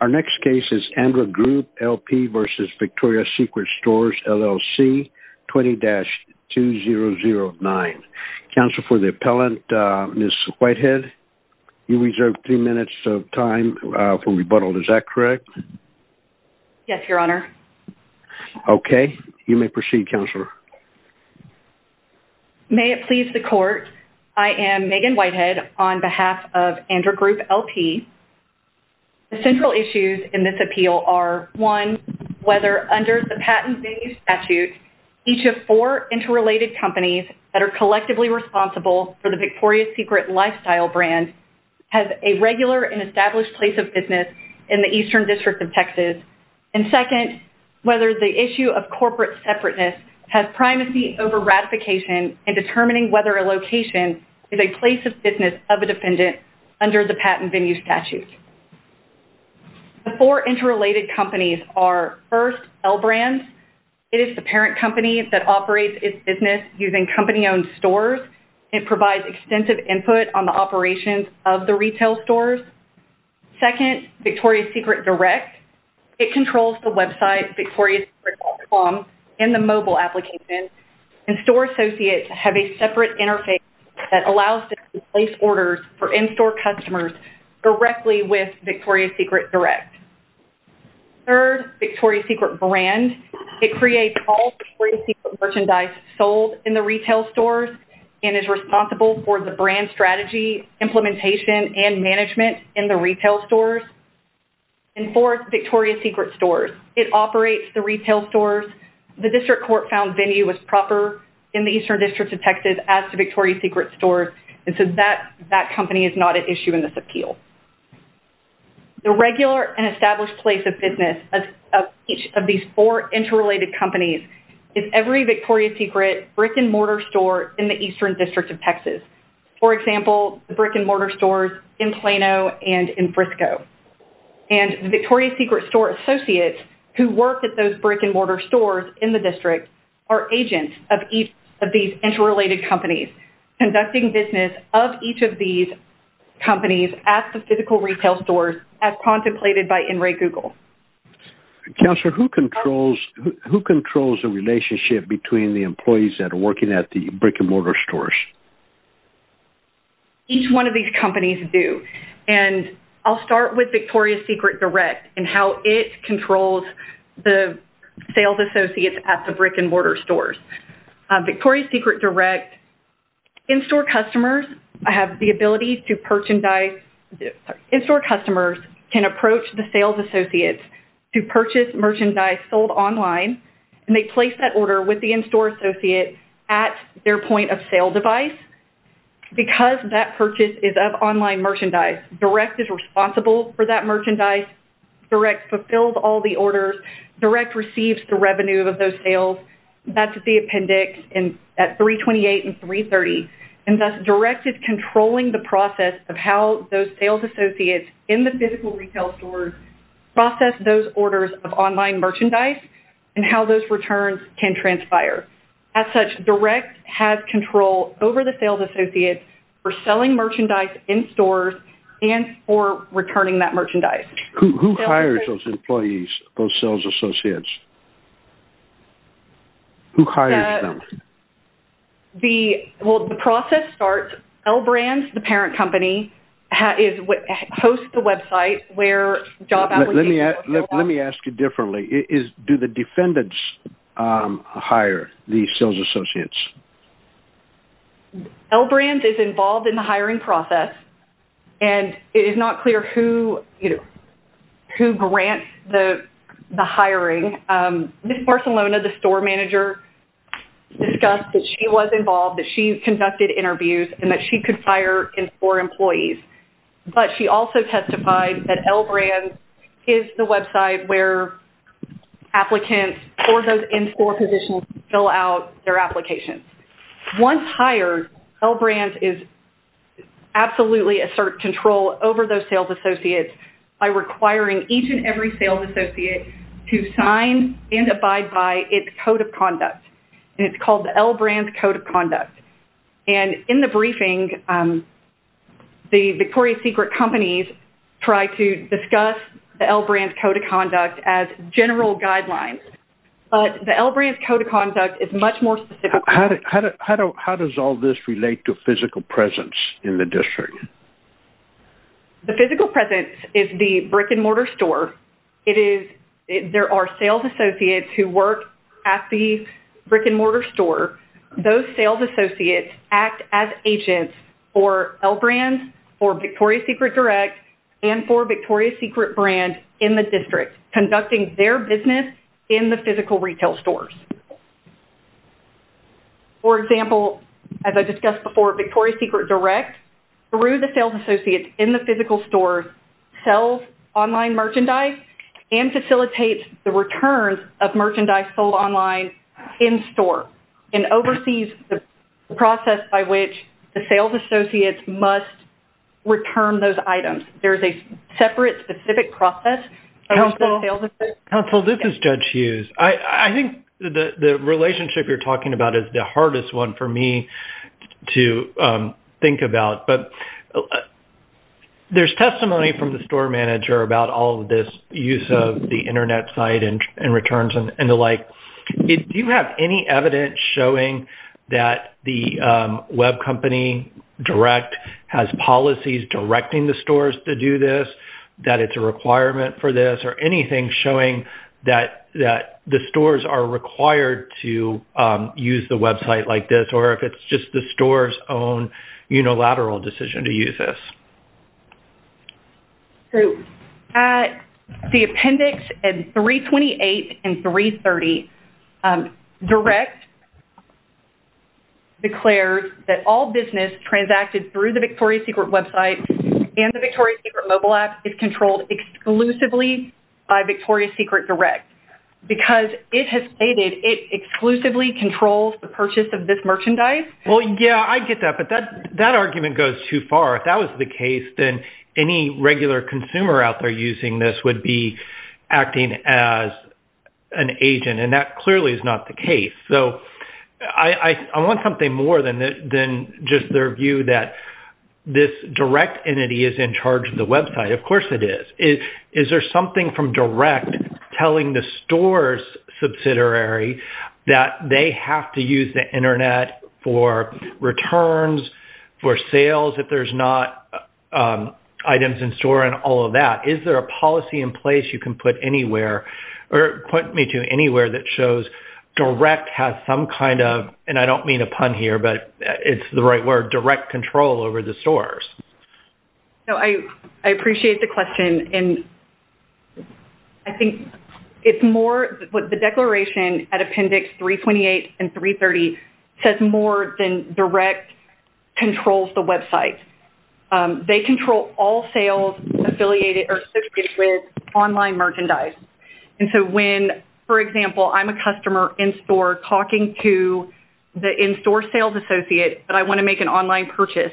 Our next case is Andra Group, LP v. Victoria's Secret Stores, LLC, 20-2009. Counsel for the appellant, Ms. Whitehead, you reserve three minutes of time for rebuttal. Is that correct? Yes, Your Honor. Okay. You may proceed, Counselor. May it please the Court, I am Megan Whitehead on behalf of Andra Group, LP. The central issues in this appeal are, one, whether under the patent-based statute, each of four interrelated companies that are collectively responsible for the Victoria's Secret lifestyle brand has a regular and established place of business in the Eastern District of Texas, and, second, whether the issue of corporate separateness has primacy over ratification in determining whether a location is a place of business of a defendant under the patent venue statute. The four interrelated companies are, first, L Brands. It is the parent company that operates its business using company-owned stores and provides extensive input on the operations of the retail stores. Second, Victoria's Secret Direct. It controls the website, victoriasecret.com, and the mobile application, and store associates have a separate interface that allows them to place orders for in-store customers directly with Victoria's Secret Direct. Third, Victoria's Secret Brand. It creates all Victoria's Secret merchandise sold in the retail stores and is responsible for the brand strategy, implementation, and management in the retail stores. And, fourth, Victoria's Secret Stores. It operates the retail stores. The district court found venue was proper in the Eastern District of Texas as to Victoria's Secret Stores, and so that company is not at issue in this appeal. The regular and established place of business of each of these four interrelated companies is every Victoria's Secret brick-and-mortar store in the Eastern District of Texas. For example, the brick-and-mortar stores in Plano and in Frisco. And the Victoria's Secret store associates who work at those brick-and-mortar stores in the district are agents of each of these interrelated companies, conducting business of each of these companies at the physical retail stores as contemplated by NRA Google. Counselor, who controls the relationship between the employees that are working at the brick-and-mortar stores? Each one of these companies do, and I'll start with Victoria's Secret Direct and how it controls the sales associates at the brick-and-mortar stores. Victoria's Secret Direct in-store customers have the ability to purchase and buy. In-store customers can approach the sales associates to purchase merchandise sold online, and they place that order with the in-store associate at their point-of-sale device. Because that purchase is of online merchandise, Direct is responsible for that merchandise. Direct fulfills all the orders. Direct receives the revenue of those sales. That's the appendix at 328 and 330. Direct is controlling the process of how those sales associates in the physical retail stores process those orders of online merchandise and how those returns can transpire. As such, Direct has control over the sales associates for selling merchandise in-stores and for returning that merchandise. Who hires those employees, those sales associates? Who hires them? The process starts. L Brands, the parent company, hosts the website where job applications go up. Let me ask you differently. Do the defendants hire the sales associates? L Brands is involved in the hiring process, and it is not clear who grants the hiring. Ms. Barcelona, the store manager, discussed that she was involved, that she conducted interviews, and that she could fire in-store employees. But she also testified that L Brands is the website where applicants for those in-store positions fill out their applications. Once hired, L Brands is absolutely in control over those sales associates by requiring each and every sales associate to sign and abide by its code of conduct, and it's called the L Brands Code of Conduct. And in the briefing, the Victoria's Secret companies try to discuss the L Brands Code of Conduct as general guidelines, but the L Brands Code of Conduct is much more specific. How does all this relate to physical presence in the district? The physical presence is the brick-and-mortar store. There are sales associates who work at the brick-and-mortar store. Those sales associates act as agents for L Brands, for Victoria's Secret Direct, and for Victoria's Secret Brand in the district, conducting their business in the physical retail stores. For example, as I discussed before, Victoria's Secret Direct, through the sales associates in the physical stores, sells online merchandise and facilitates the returns of merchandise sold online in-store and oversees the process by which the sales associates must return those items. There is a separate, specific process. Counsel, this is Judge Hughes. I think the relationship you're talking about is the hardest one for me to think about, but there's testimony from the store manager about all of this use of the Internet site and returns and the like. Do you have any evidence showing that the web company, Direct, has policies directing the stores to do this, that it's a requirement for this, or anything showing that the stores are required to use the website like this, or if it's just the store's own unilateral decision to use this? At the appendix 328 and 330, Direct declares that all business transacted through the Victoria's Secret website and the Victoria's Secret mobile app is controlled exclusively by Victoria's Secret Direct because it has stated it exclusively controls the purchase of this merchandise. Well, yeah, I get that, but that argument goes too far. If that was the case, then any regular consumer out there using this would be acting as an agent, and that clearly is not the case. I want something more than just their view that this Direct entity is in charge of the website. Of course it is. Is there something from Direct telling the store's subsidiary that they have to use the Internet for returns, for sales if there's not items in store and all of that? Is there a policy in place you can put anywhere, or point me to anywhere, that shows Direct has some kind of, and I don't mean a pun here, but it's the right word, direct control over the stores? I appreciate the question, and I think it's more, the declaration at appendix 328 and 330 says more than Direct controls the website. They control all sales associated with online merchandise, and so when, for example, I'm a customer in-store talking to the in-store sales associate that I want to make an online purchase,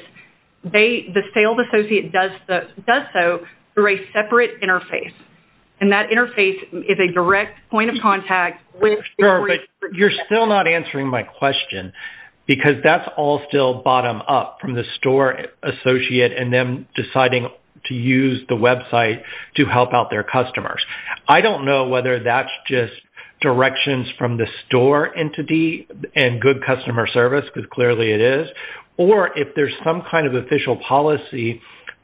the sales associate does so through a separate interface, and that interface is a direct point of contact. But you're still not answering my question, because that's all still bottom-up from the store associate and them deciding to use the website to help out their customers. I don't know whether that's just directions from the store entity and good customer service, because clearly it is, or if there's some kind of official policy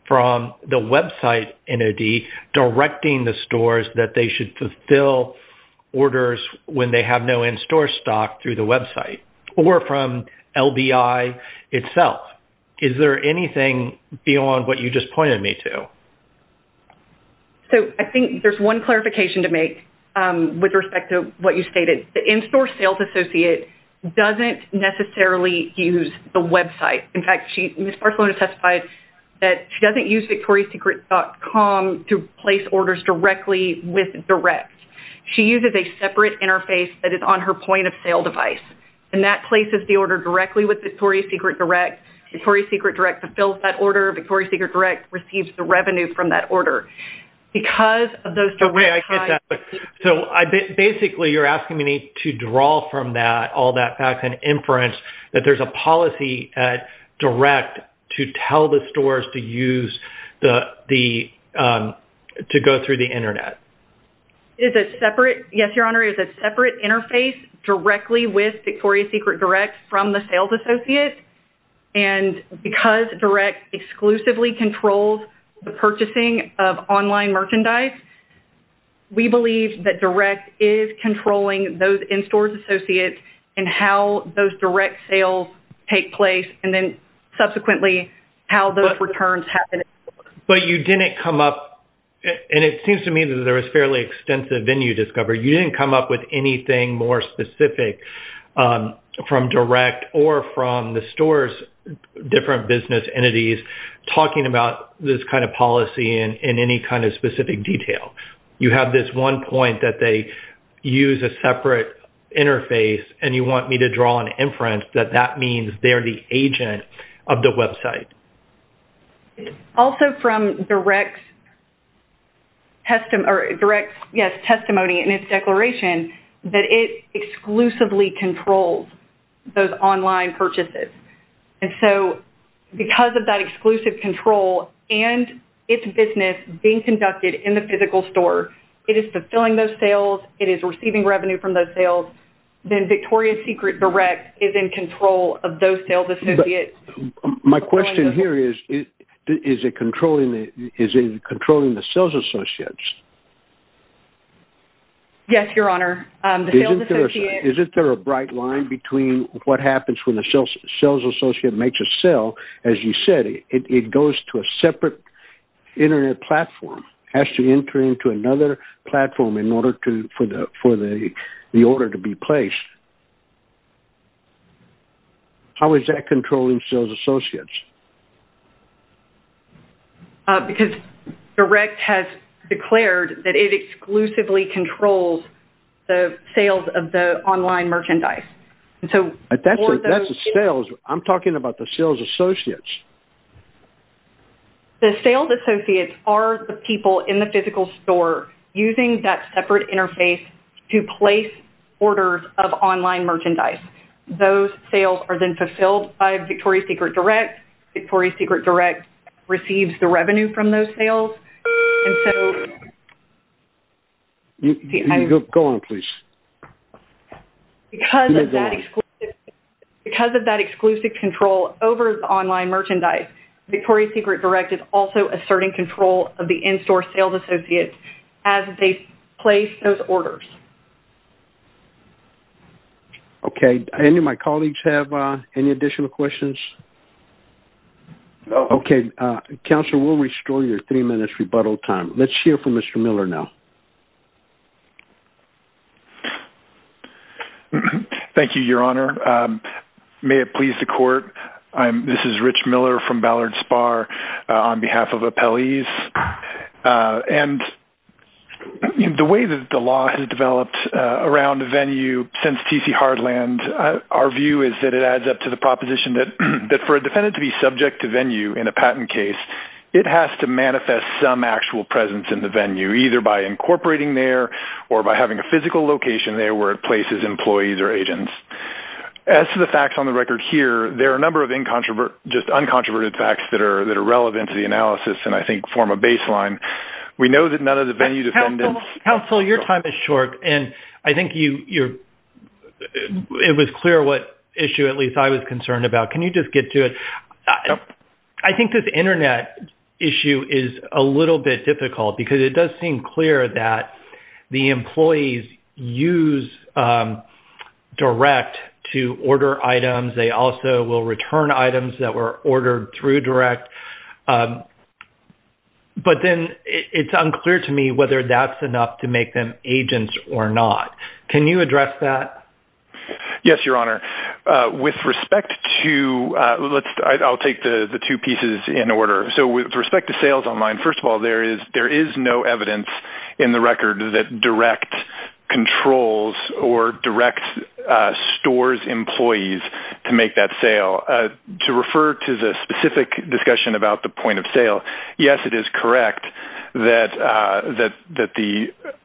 from the website entity directing the stores that they should fulfill orders when they have no in-store stock through the website, or from LBI itself. Is there anything beyond what you just pointed me to? So I think there's one clarification to make with respect to what you stated. The in-store sales associate doesn't necessarily use the website. In fact, Ms. Barcelona testified that she doesn't use victorisecret.com to place orders directly with direct. She uses a separate interface that is on her point-of-sale device, and that places the order directly with victorisecret.com. victorisecret.com fulfills that order. victorisecret.com receives the revenue from that order. So basically you're asking me to draw from all that fact and inference that there's a policy at Direct to tell the stores to use the – to go through the Internet. It's a separate – yes, Your Honor, it's a separate interface directly with Victoria's Secret Direct from the sales associate, and because Direct exclusively controls the purchasing of online merchandise, we believe that Direct is controlling those in-store associates and how those direct sales take place and then subsequently how those returns happen. But you didn't come up – and it seems to me that there was fairly extensive venue discovery. You didn't come up with anything more specific from Direct or from the stores' different business entities talking about this kind of policy in any kind of specific detail. You have this one point that they use a separate interface and you want me to draw an inference that that means they're the agent of the website. Also from Direct's testimony in its declaration that it exclusively controls those online purchases. And so because of that exclusive control and its business being conducted in the physical store, it is fulfilling those sales. It is receiving revenue from those sales. Then Victoria's Secret Direct is in control of those sales associates. My question here is, is it controlling the sales associates? Yes, Your Honor. Isn't there a bright line between what happens when the sales associate makes a sale? As you said, it goes to a separate Internet platform. It has to enter into another platform for the order to be placed. How is that controlling sales associates? Because Direct has declared that it exclusively controls the sales of the online merchandise. That's the sales. I'm talking about the sales associates. The sales associates are the people in the physical store using that separate interface to place orders of online merchandise. Those sales are then fulfilled by Victoria's Secret Direct. Victoria's Secret Direct receives the revenue from those sales. Go on, please. Because of that exclusive control over the online merchandise, Victoria's Secret Direct is also asserting control of the in-store sales associates as they place those orders. Okay. Any of my colleagues have any additional questions? No. Okay. Counselor, we'll restore your three minutes rebuttal time. Let's hear from Mr. Miller now. Thank you, Your Honor. May it please the court. This is Rich Miller from Ballard Spar on behalf of appellees. The way that the law has developed around the venue since T.C. Hardland, our view is that it adds up to the proposition that for a defendant to be subject to venue in a patent case, it has to manifest some actual presence in the venue, either by incorporating there or by having a physical location there where it places employees or agents. As to the facts on the record here, there are a number of just uncontroverted facts that are relevant to the analysis and I think form a baseline. We know that none of the venue defendants— Counsel, your time is short, and I think it was clear what issue at least I was concerned about. Can you just get to it? I think this Internet issue is a little bit difficult because it does seem clear that the employees use direct to order items. They also will return items that were ordered through direct. But then it's unclear to me whether that's enough to make them agents or not. Can you address that? Yes, Your Honor. With respect to—I'll take the two pieces in order. With respect to sales online, first of all, there is no evidence in the record that direct controls or direct stores employees to make that sale. To refer to the specific discussion about the point of sale, yes, it is correct that the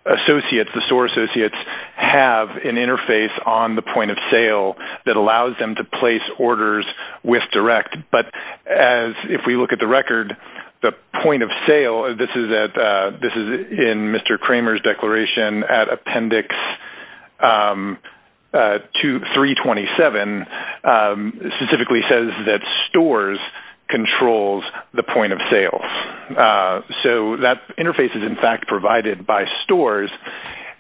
associates, the store associates, have an interface on the point of sale that allows them to place orders with direct. But if we look at the record, the point of sale, this is in Mr. Kramer's declaration at Appendix 327, specifically says that stores control the point of sale. So that interface is, in fact, provided by stores.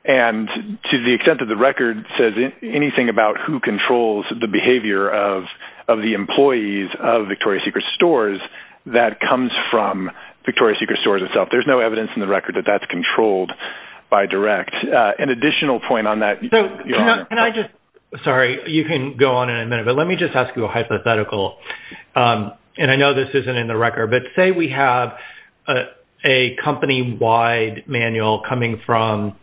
And to the extent that the record says anything about who controls the behavior of the employees of Victoria's Secret Stores, that comes from Victoria's Secret Stores itself. There's no evidence in the record that that's controlled by direct. An additional point on that— Sorry, you can go on in a minute, but let me just ask you a hypothetical. And I know this isn't in the record, but say we have a company-wide manual coming from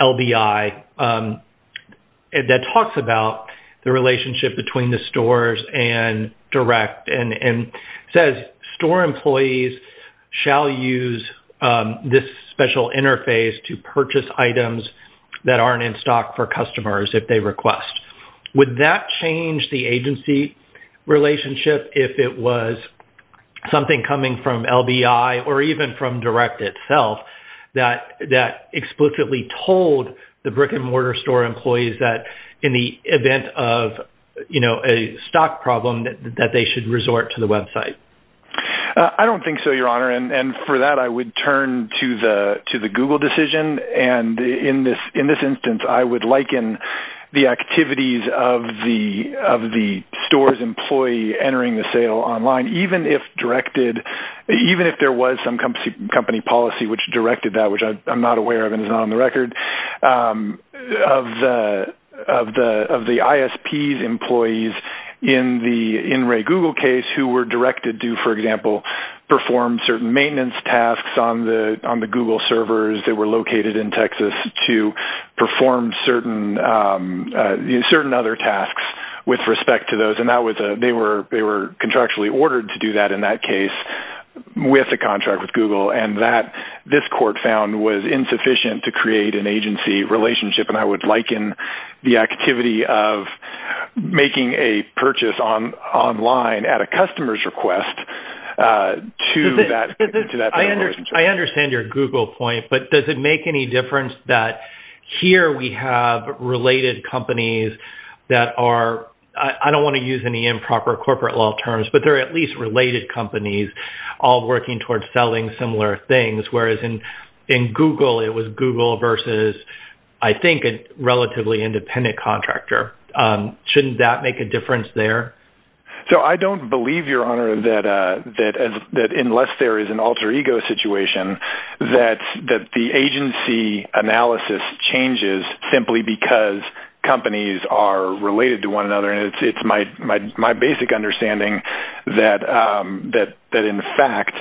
LBI that talks about the relationship between the stores and direct and says, store employees shall use this special interface to purchase items that aren't in stock for customers if they request. Would that change the agency relationship if it was something coming from LBI or even from direct itself that explicitly told the brick-and-mortar store employees that, in the event of a stock problem, that they should resort to the website? I don't think so, Your Honor. And for that, I would turn to the Google decision. And in this instance, I would liken the activities of the store's employee entering the sale online, even if there was some company policy which directed that, which I'm not aware of and is not on the record, of the ISP's employees in the In-Ray Google case who were directed to, for example, perform certain maintenance tasks on the Google servers that were located in Texas to perform certain other tasks with respect to those. And they were contractually ordered to do that in that case with a contract with Google. And that, this court found, was insufficient to create an agency relationship. And I would liken the activity of making a purchase online at a customer's request to that particular agency. I understand your Google point, but does it make any difference that here we have related companies that are – I don't want to use any improper corporate law terms – but there are at least related companies all working towards selling similar things, whereas in Google it was Google versus, I think, a relatively independent contractor. Shouldn't that make a difference there? So I don't believe, Your Honor, that unless there is an alter ego situation, that the agency analysis changes simply because companies are related to one another. And it's my basic understanding that, in fact,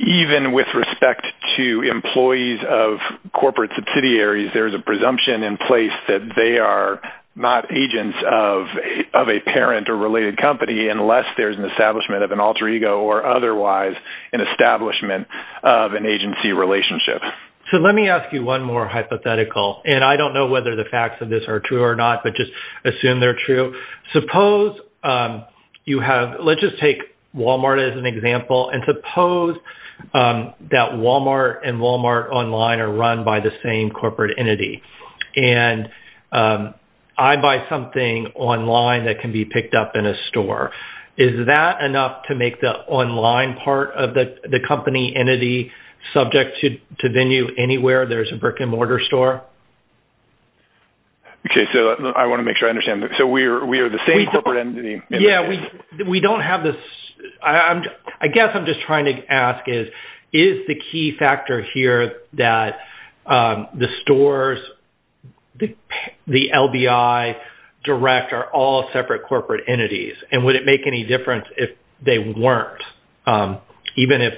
even with respect to employees of corporate subsidiaries, there's a presumption in place that they are not agents of a parent or related company unless there's an establishment of an alter ego or otherwise an establishment of an agency relationship. So let me ask you one more hypothetical. And I don't know whether the facts of this are true or not, but just assume they're true. Suppose you have – let's just take Walmart as an example. And suppose that Walmart and Walmart Online are run by the same corporate entity. And I buy something online that can be picked up in a store. Is that enough to make the online part of the company entity subject to venue anywhere? There's a brick-and-mortar store. Okay, so I want to make sure I understand. So we are the same corporate entity. Yeah, we don't have the – I guess I'm just trying to ask is, is the key factor here that the stores, the LBI, Direct, are all separate corporate entities? And would it make any difference if they weren't, even if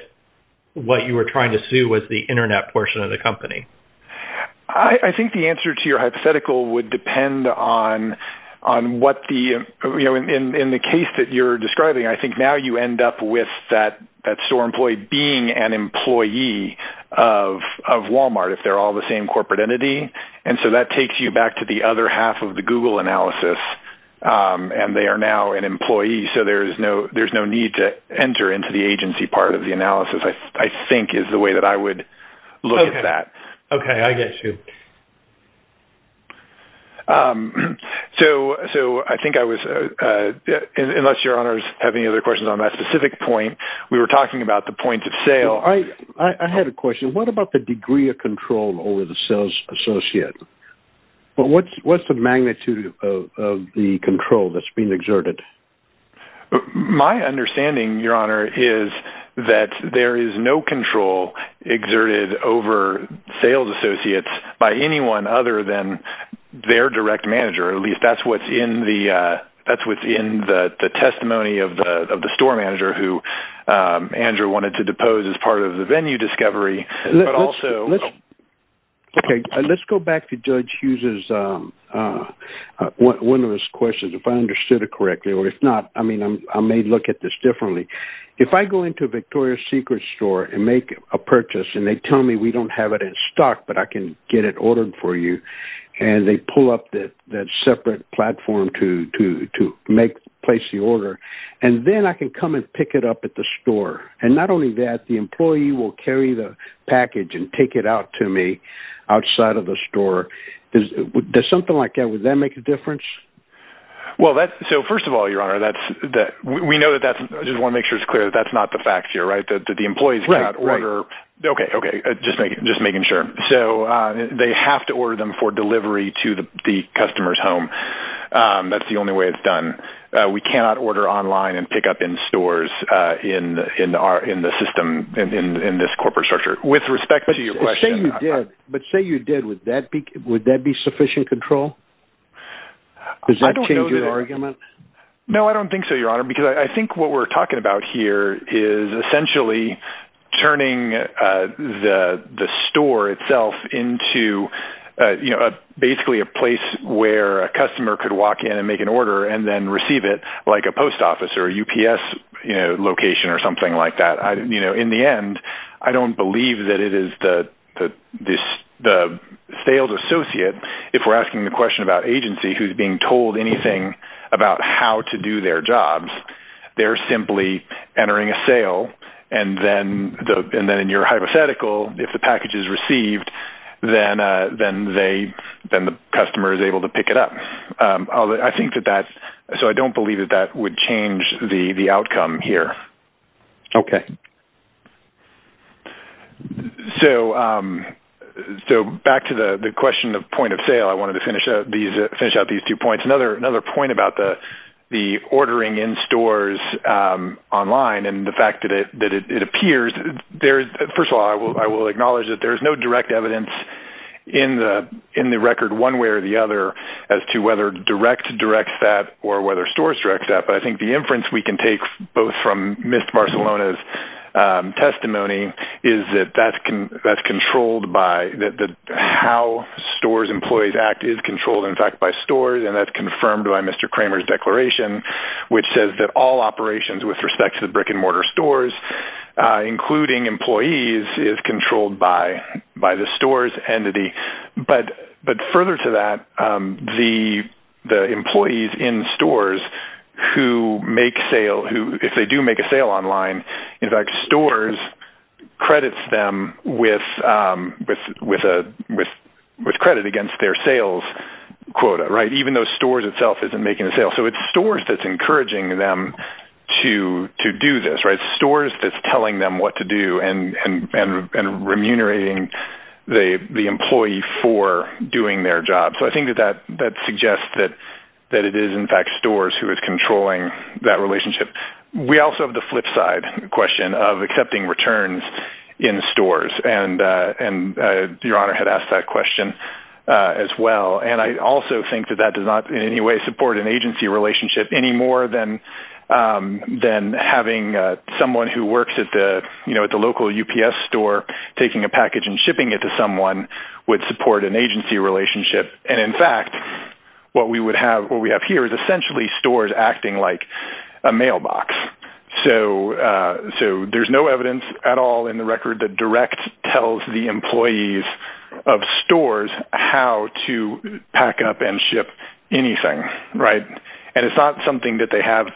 what you were trying to sue was the Internet portion of the company? I think the answer to your hypothetical would depend on what the – in the case that you're describing, I think now you end up with that store employee being an employee of Walmart if they're all the same corporate entity. And so that takes you back to the other half of the Google analysis. And they are now an employee, so there's no need to enter into the agency part of the analysis, I think, is the way that I would look at that. Okay, I get you. So I think I was – unless your honors have any other questions on that specific point. We were talking about the point of sale. I had a question. What about the degree of control over the sales associate? What's the magnitude of the control that's being exerted? My understanding, your honor, is that there is no control exerted over sales associates by anyone other than their direct manager. At least that's what's in the testimony of the store manager who Andrew wanted to depose as part of the venue discovery. Okay, let's go back to Judge Hughes' – one of his questions, if I understood it correctly. Or if not, I may look at this differently. If I go into a Victoria's Secret store and make a purchase and they tell me we don't have it in stock but I can get it ordered for you, and they pull up that separate platform to place the order, and then I can come and pick it up at the store. And not only that, the employee will carry the package and take it out to me outside of the store. Does something like that – would that make a difference? Well, that – so first of all, your honor, that's – we know that that's – I just want to make sure it's clear that that's not the fact here, right, that the employees cannot order – Right, right. Okay, okay, just making sure. So they have to order them for delivery to the customer's home. That's the only way it's done. We cannot order online and pick up in stores in the system, in this corporate structure. With respect to your question – But say you did. But say you did. Would that be sufficient control? Does that change your argument? No, I don't think so, your honor, because I think what we're talking about here is essentially turning the store itself into, you know, basically a place where a customer could walk in and make an order and then receive it like a post office or a UPS, you know, location or something like that. You know, in the end, I don't believe that it is the sales associate, if we're asking the question about agency, who's being told anything about how to do their jobs. They're simply entering a sale, and then in your hypothetical, if the package is received, then the customer is able to pick it up. I think that that – so I don't believe that that would change the outcome here. Okay. So back to the question of point of sale, I wanted to finish out these two points. Another point about the ordering in stores online and the fact that it appears – first of all, I will acknowledge that there is no direct evidence in the whether direct directs that or whether stores direct that, but I think the inference we can take both from Miss Barcelona's testimony is that that's controlled by – that how stores employees act is controlled, in fact, by stores, and that's confirmed by Mr. Kramer's declaration, which says that all operations with respect to the brick-and-mortar stores, including employees, is controlled by the stores entity. But further to that, the employees in stores who make sale – if they do make a sale online, in fact, stores credits them with credit against their sales quota, right, even though stores itself isn't making a sale. So it's stores that's encouraging them to do this, right, the employee for doing their job. So I think that that suggests that it is, in fact, stores who is controlling that relationship. We also have the flip side question of accepting returns in stores, and Your Honor had asked that question as well. And I also think that that does not in any way support an agency relationship any more than having someone who works at the local UPS store taking a package and shipping it to someone would support an agency relationship. And, in fact, what we have here is essentially stores acting like a mailbox. So there's no evidence at all in the record that directs, tells the employees of stores how to pack up and ship anything, right? And it's not something that they have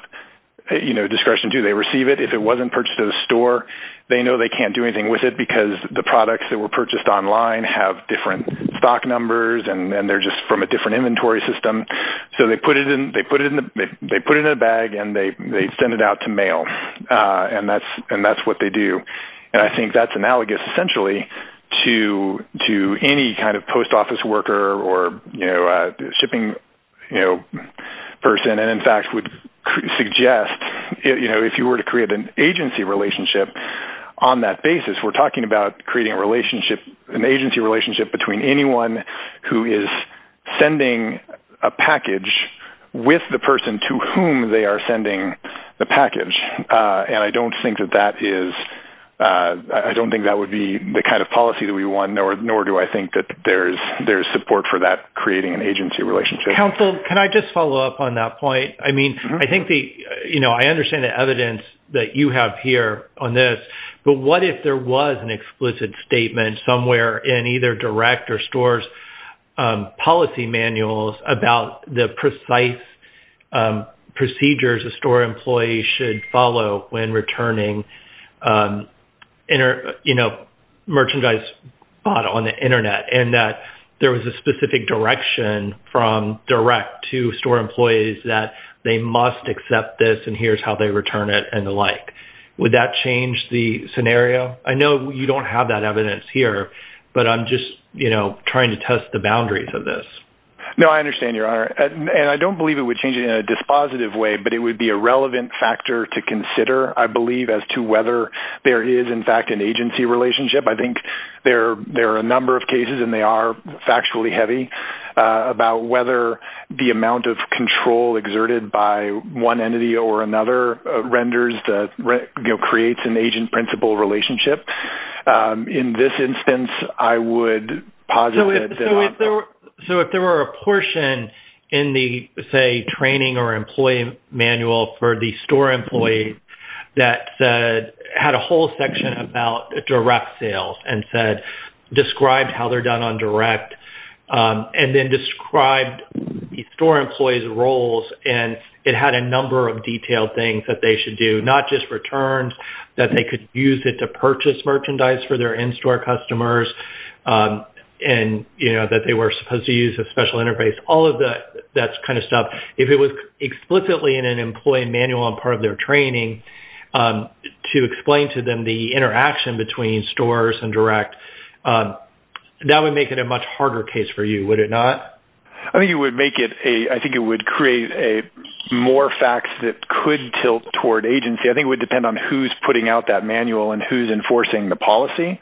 discretion to. They receive it. If it wasn't purchased at a store, they know they can't do anything with it because the products that were purchased online have different stock numbers and they're just from a different inventory system. So they put it in a bag and they send it out to mail, and that's what they do. And I think that's analogous essentially to any kind of post office worker or shipping person, and, in fact, would suggest if you were to create an agency relationship on that basis, we're talking about creating a relationship, an agency relationship between anyone who is sending a package with the person to whom they are sending the package. And I don't think that that is the kind of policy that we want, nor do I think that there is support for that creating an agency relationship. Counsel, can I just follow up on that point? I understand the evidence that you have here on this, but what if there was an explicit statement somewhere in either direct or store's policy manuals about the precise procedures a store employee should follow when returning merchandise bought on the Internet and that there was a specific direction from direct to store employees that they must accept this and here's how they return it and the like. Would that change the scenario? I know you don't have that evidence here, but I'm just, you know, trying to test the boundaries of this. No, I understand, Your Honor. And I don't believe it would change it in a dispositive way, but it would be a relevant factor to consider, I believe, as to whether there is, in fact, an agency relationship. I think there are a number of cases, and they are factually heavy, about whether the amount of control exerted by one entity or another renders, you know, creates an agent-principal relationship. In this instance, I would posit that… So if there were a portion in the, say, training or employee manual for the store employee that had a whole section about direct sales and described how they're done on direct and then described the store employee's roles and it had a number of detailed things that they should do, not just returns, that they could use it to purchase merchandise for their in-store customers and, you know, that they were supposed to use a special interface, all of that kind of stuff. If it was explicitly in an employee manual on part of their training to explain to them the interaction between stores and direct, that would make it a much harder case for you, would it not? I think it would make it a… I think it would create more facts that could tilt toward agency. I think it would depend on who's putting out that manual and who's enforcing the policy,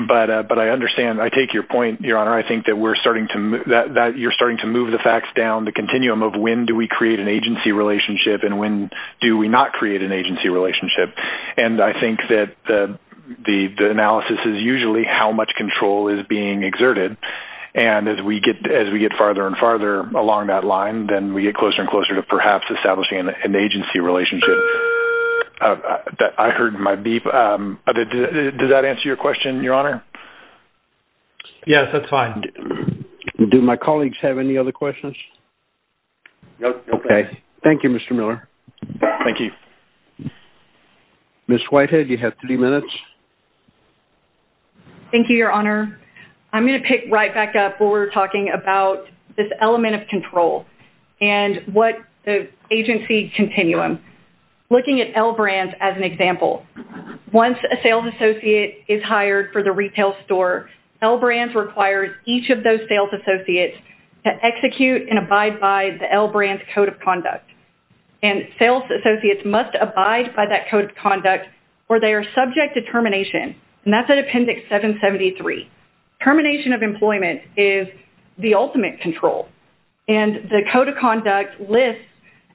but I understand. I take your point, Your Honor. I think that you're starting to move the facts down, the continuum of when do we create an agency relationship and when do we not create an agency relationship, and I think that the analysis is usually how much control is being exerted and as we get farther and farther along that line, then we get closer and closer to perhaps establishing an agency relationship. I heard my beep. Does that answer your question, Your Honor? Yes, that's fine. Do my colleagues have any other questions? No questions. Okay. Thank you, Mr. Miller. Thank you. Ms. Whitehead, you have three minutes. Thank you, Your Honor. I'm going to pick right back up where we were talking about this element of control and what the agency continuum, looking at L Brands as an example. Once a sales associate is hired for the retail store, L Brands requires each of those sales associates to execute and abide by the L Brands Code of Conduct, and sales associates must abide by that Code of Conduct or they are subject to termination, and that's at Appendix 773. Termination of employment is the ultimate control, and the Code of Conduct lists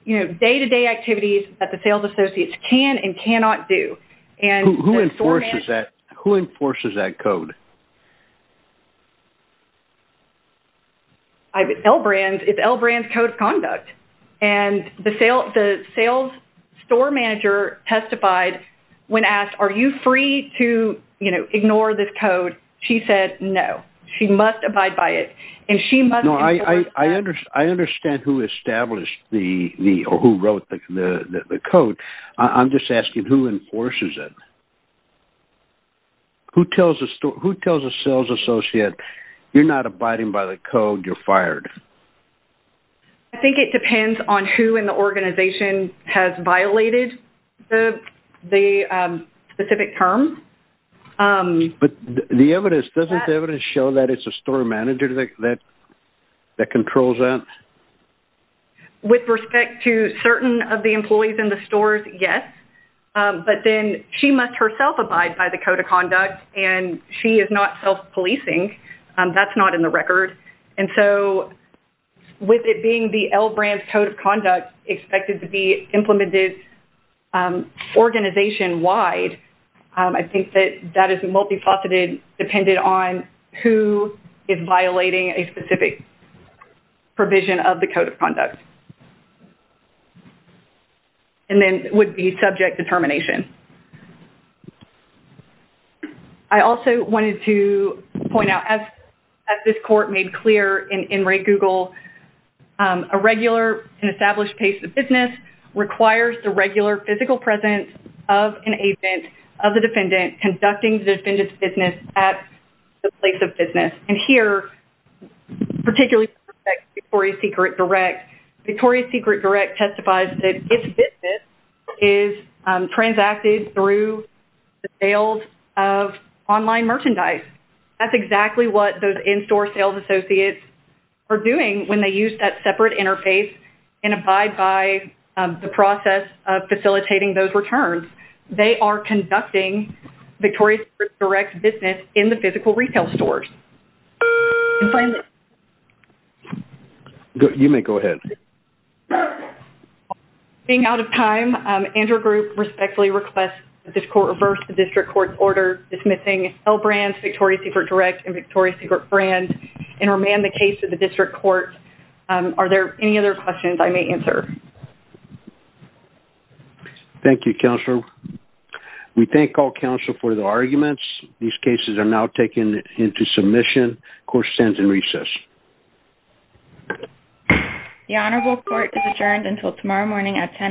day-to-day activities that the sales associates can and cannot do. Who enforces that? Who enforces that code? L Brands. It's L Brands Code of Conduct, and the sales store manager testified when asked, are you free to ignore this code? She said no. She must abide by it, and she must enforce that. I understand who established the or who wrote the code. I'm just asking, who enforces it? Who tells a sales associate, you're not abiding by the code, you're fired? I think it depends on who in the organization has violated the specific term. But the evidence, doesn't the evidence show that it's a store manager that controls that? With respect to certain of the employees in the stores, yes. But then she must herself abide by the Code of Conduct, and she is not self-policing. That's not in the record. And so with it being the L Brands Code of Conduct expected to be implemented organization-wide, I think that that is multifaceted, depended on who is violating a specific provision of the Code of Conduct. And then it would be subject determination. I also wanted to point out, as this court made clear in Red Google, a regular and established pace of business requires the regular physical presence of an agent, of the defendant, conducting the defendant's business at the place of business. And here, particularly with respect to Victoria's Secret Direct, Victoria's Secret Direct testifies that its business is transacted through the sales of online merchandise. That's exactly what those in-store sales associates are doing when they use that separate interface and abide by the process of facilitating those returns. They are conducting Victoria's Secret Direct business in the physical retail stores. You may go ahead. Being out of time, Andrew Group respectfully requests that this court reverse the district court's order dismissing L Brands, Victoria's Secret Direct, and Victoria's Secret Brand and remand the case to the district court. Are there any other questions I may answer? Thank you, counsel. We thank all counsel for the arguments. These cases are now taken into submission. Court stands in recess. The Honorable Court is adjourned until tomorrow morning at 10 a.m.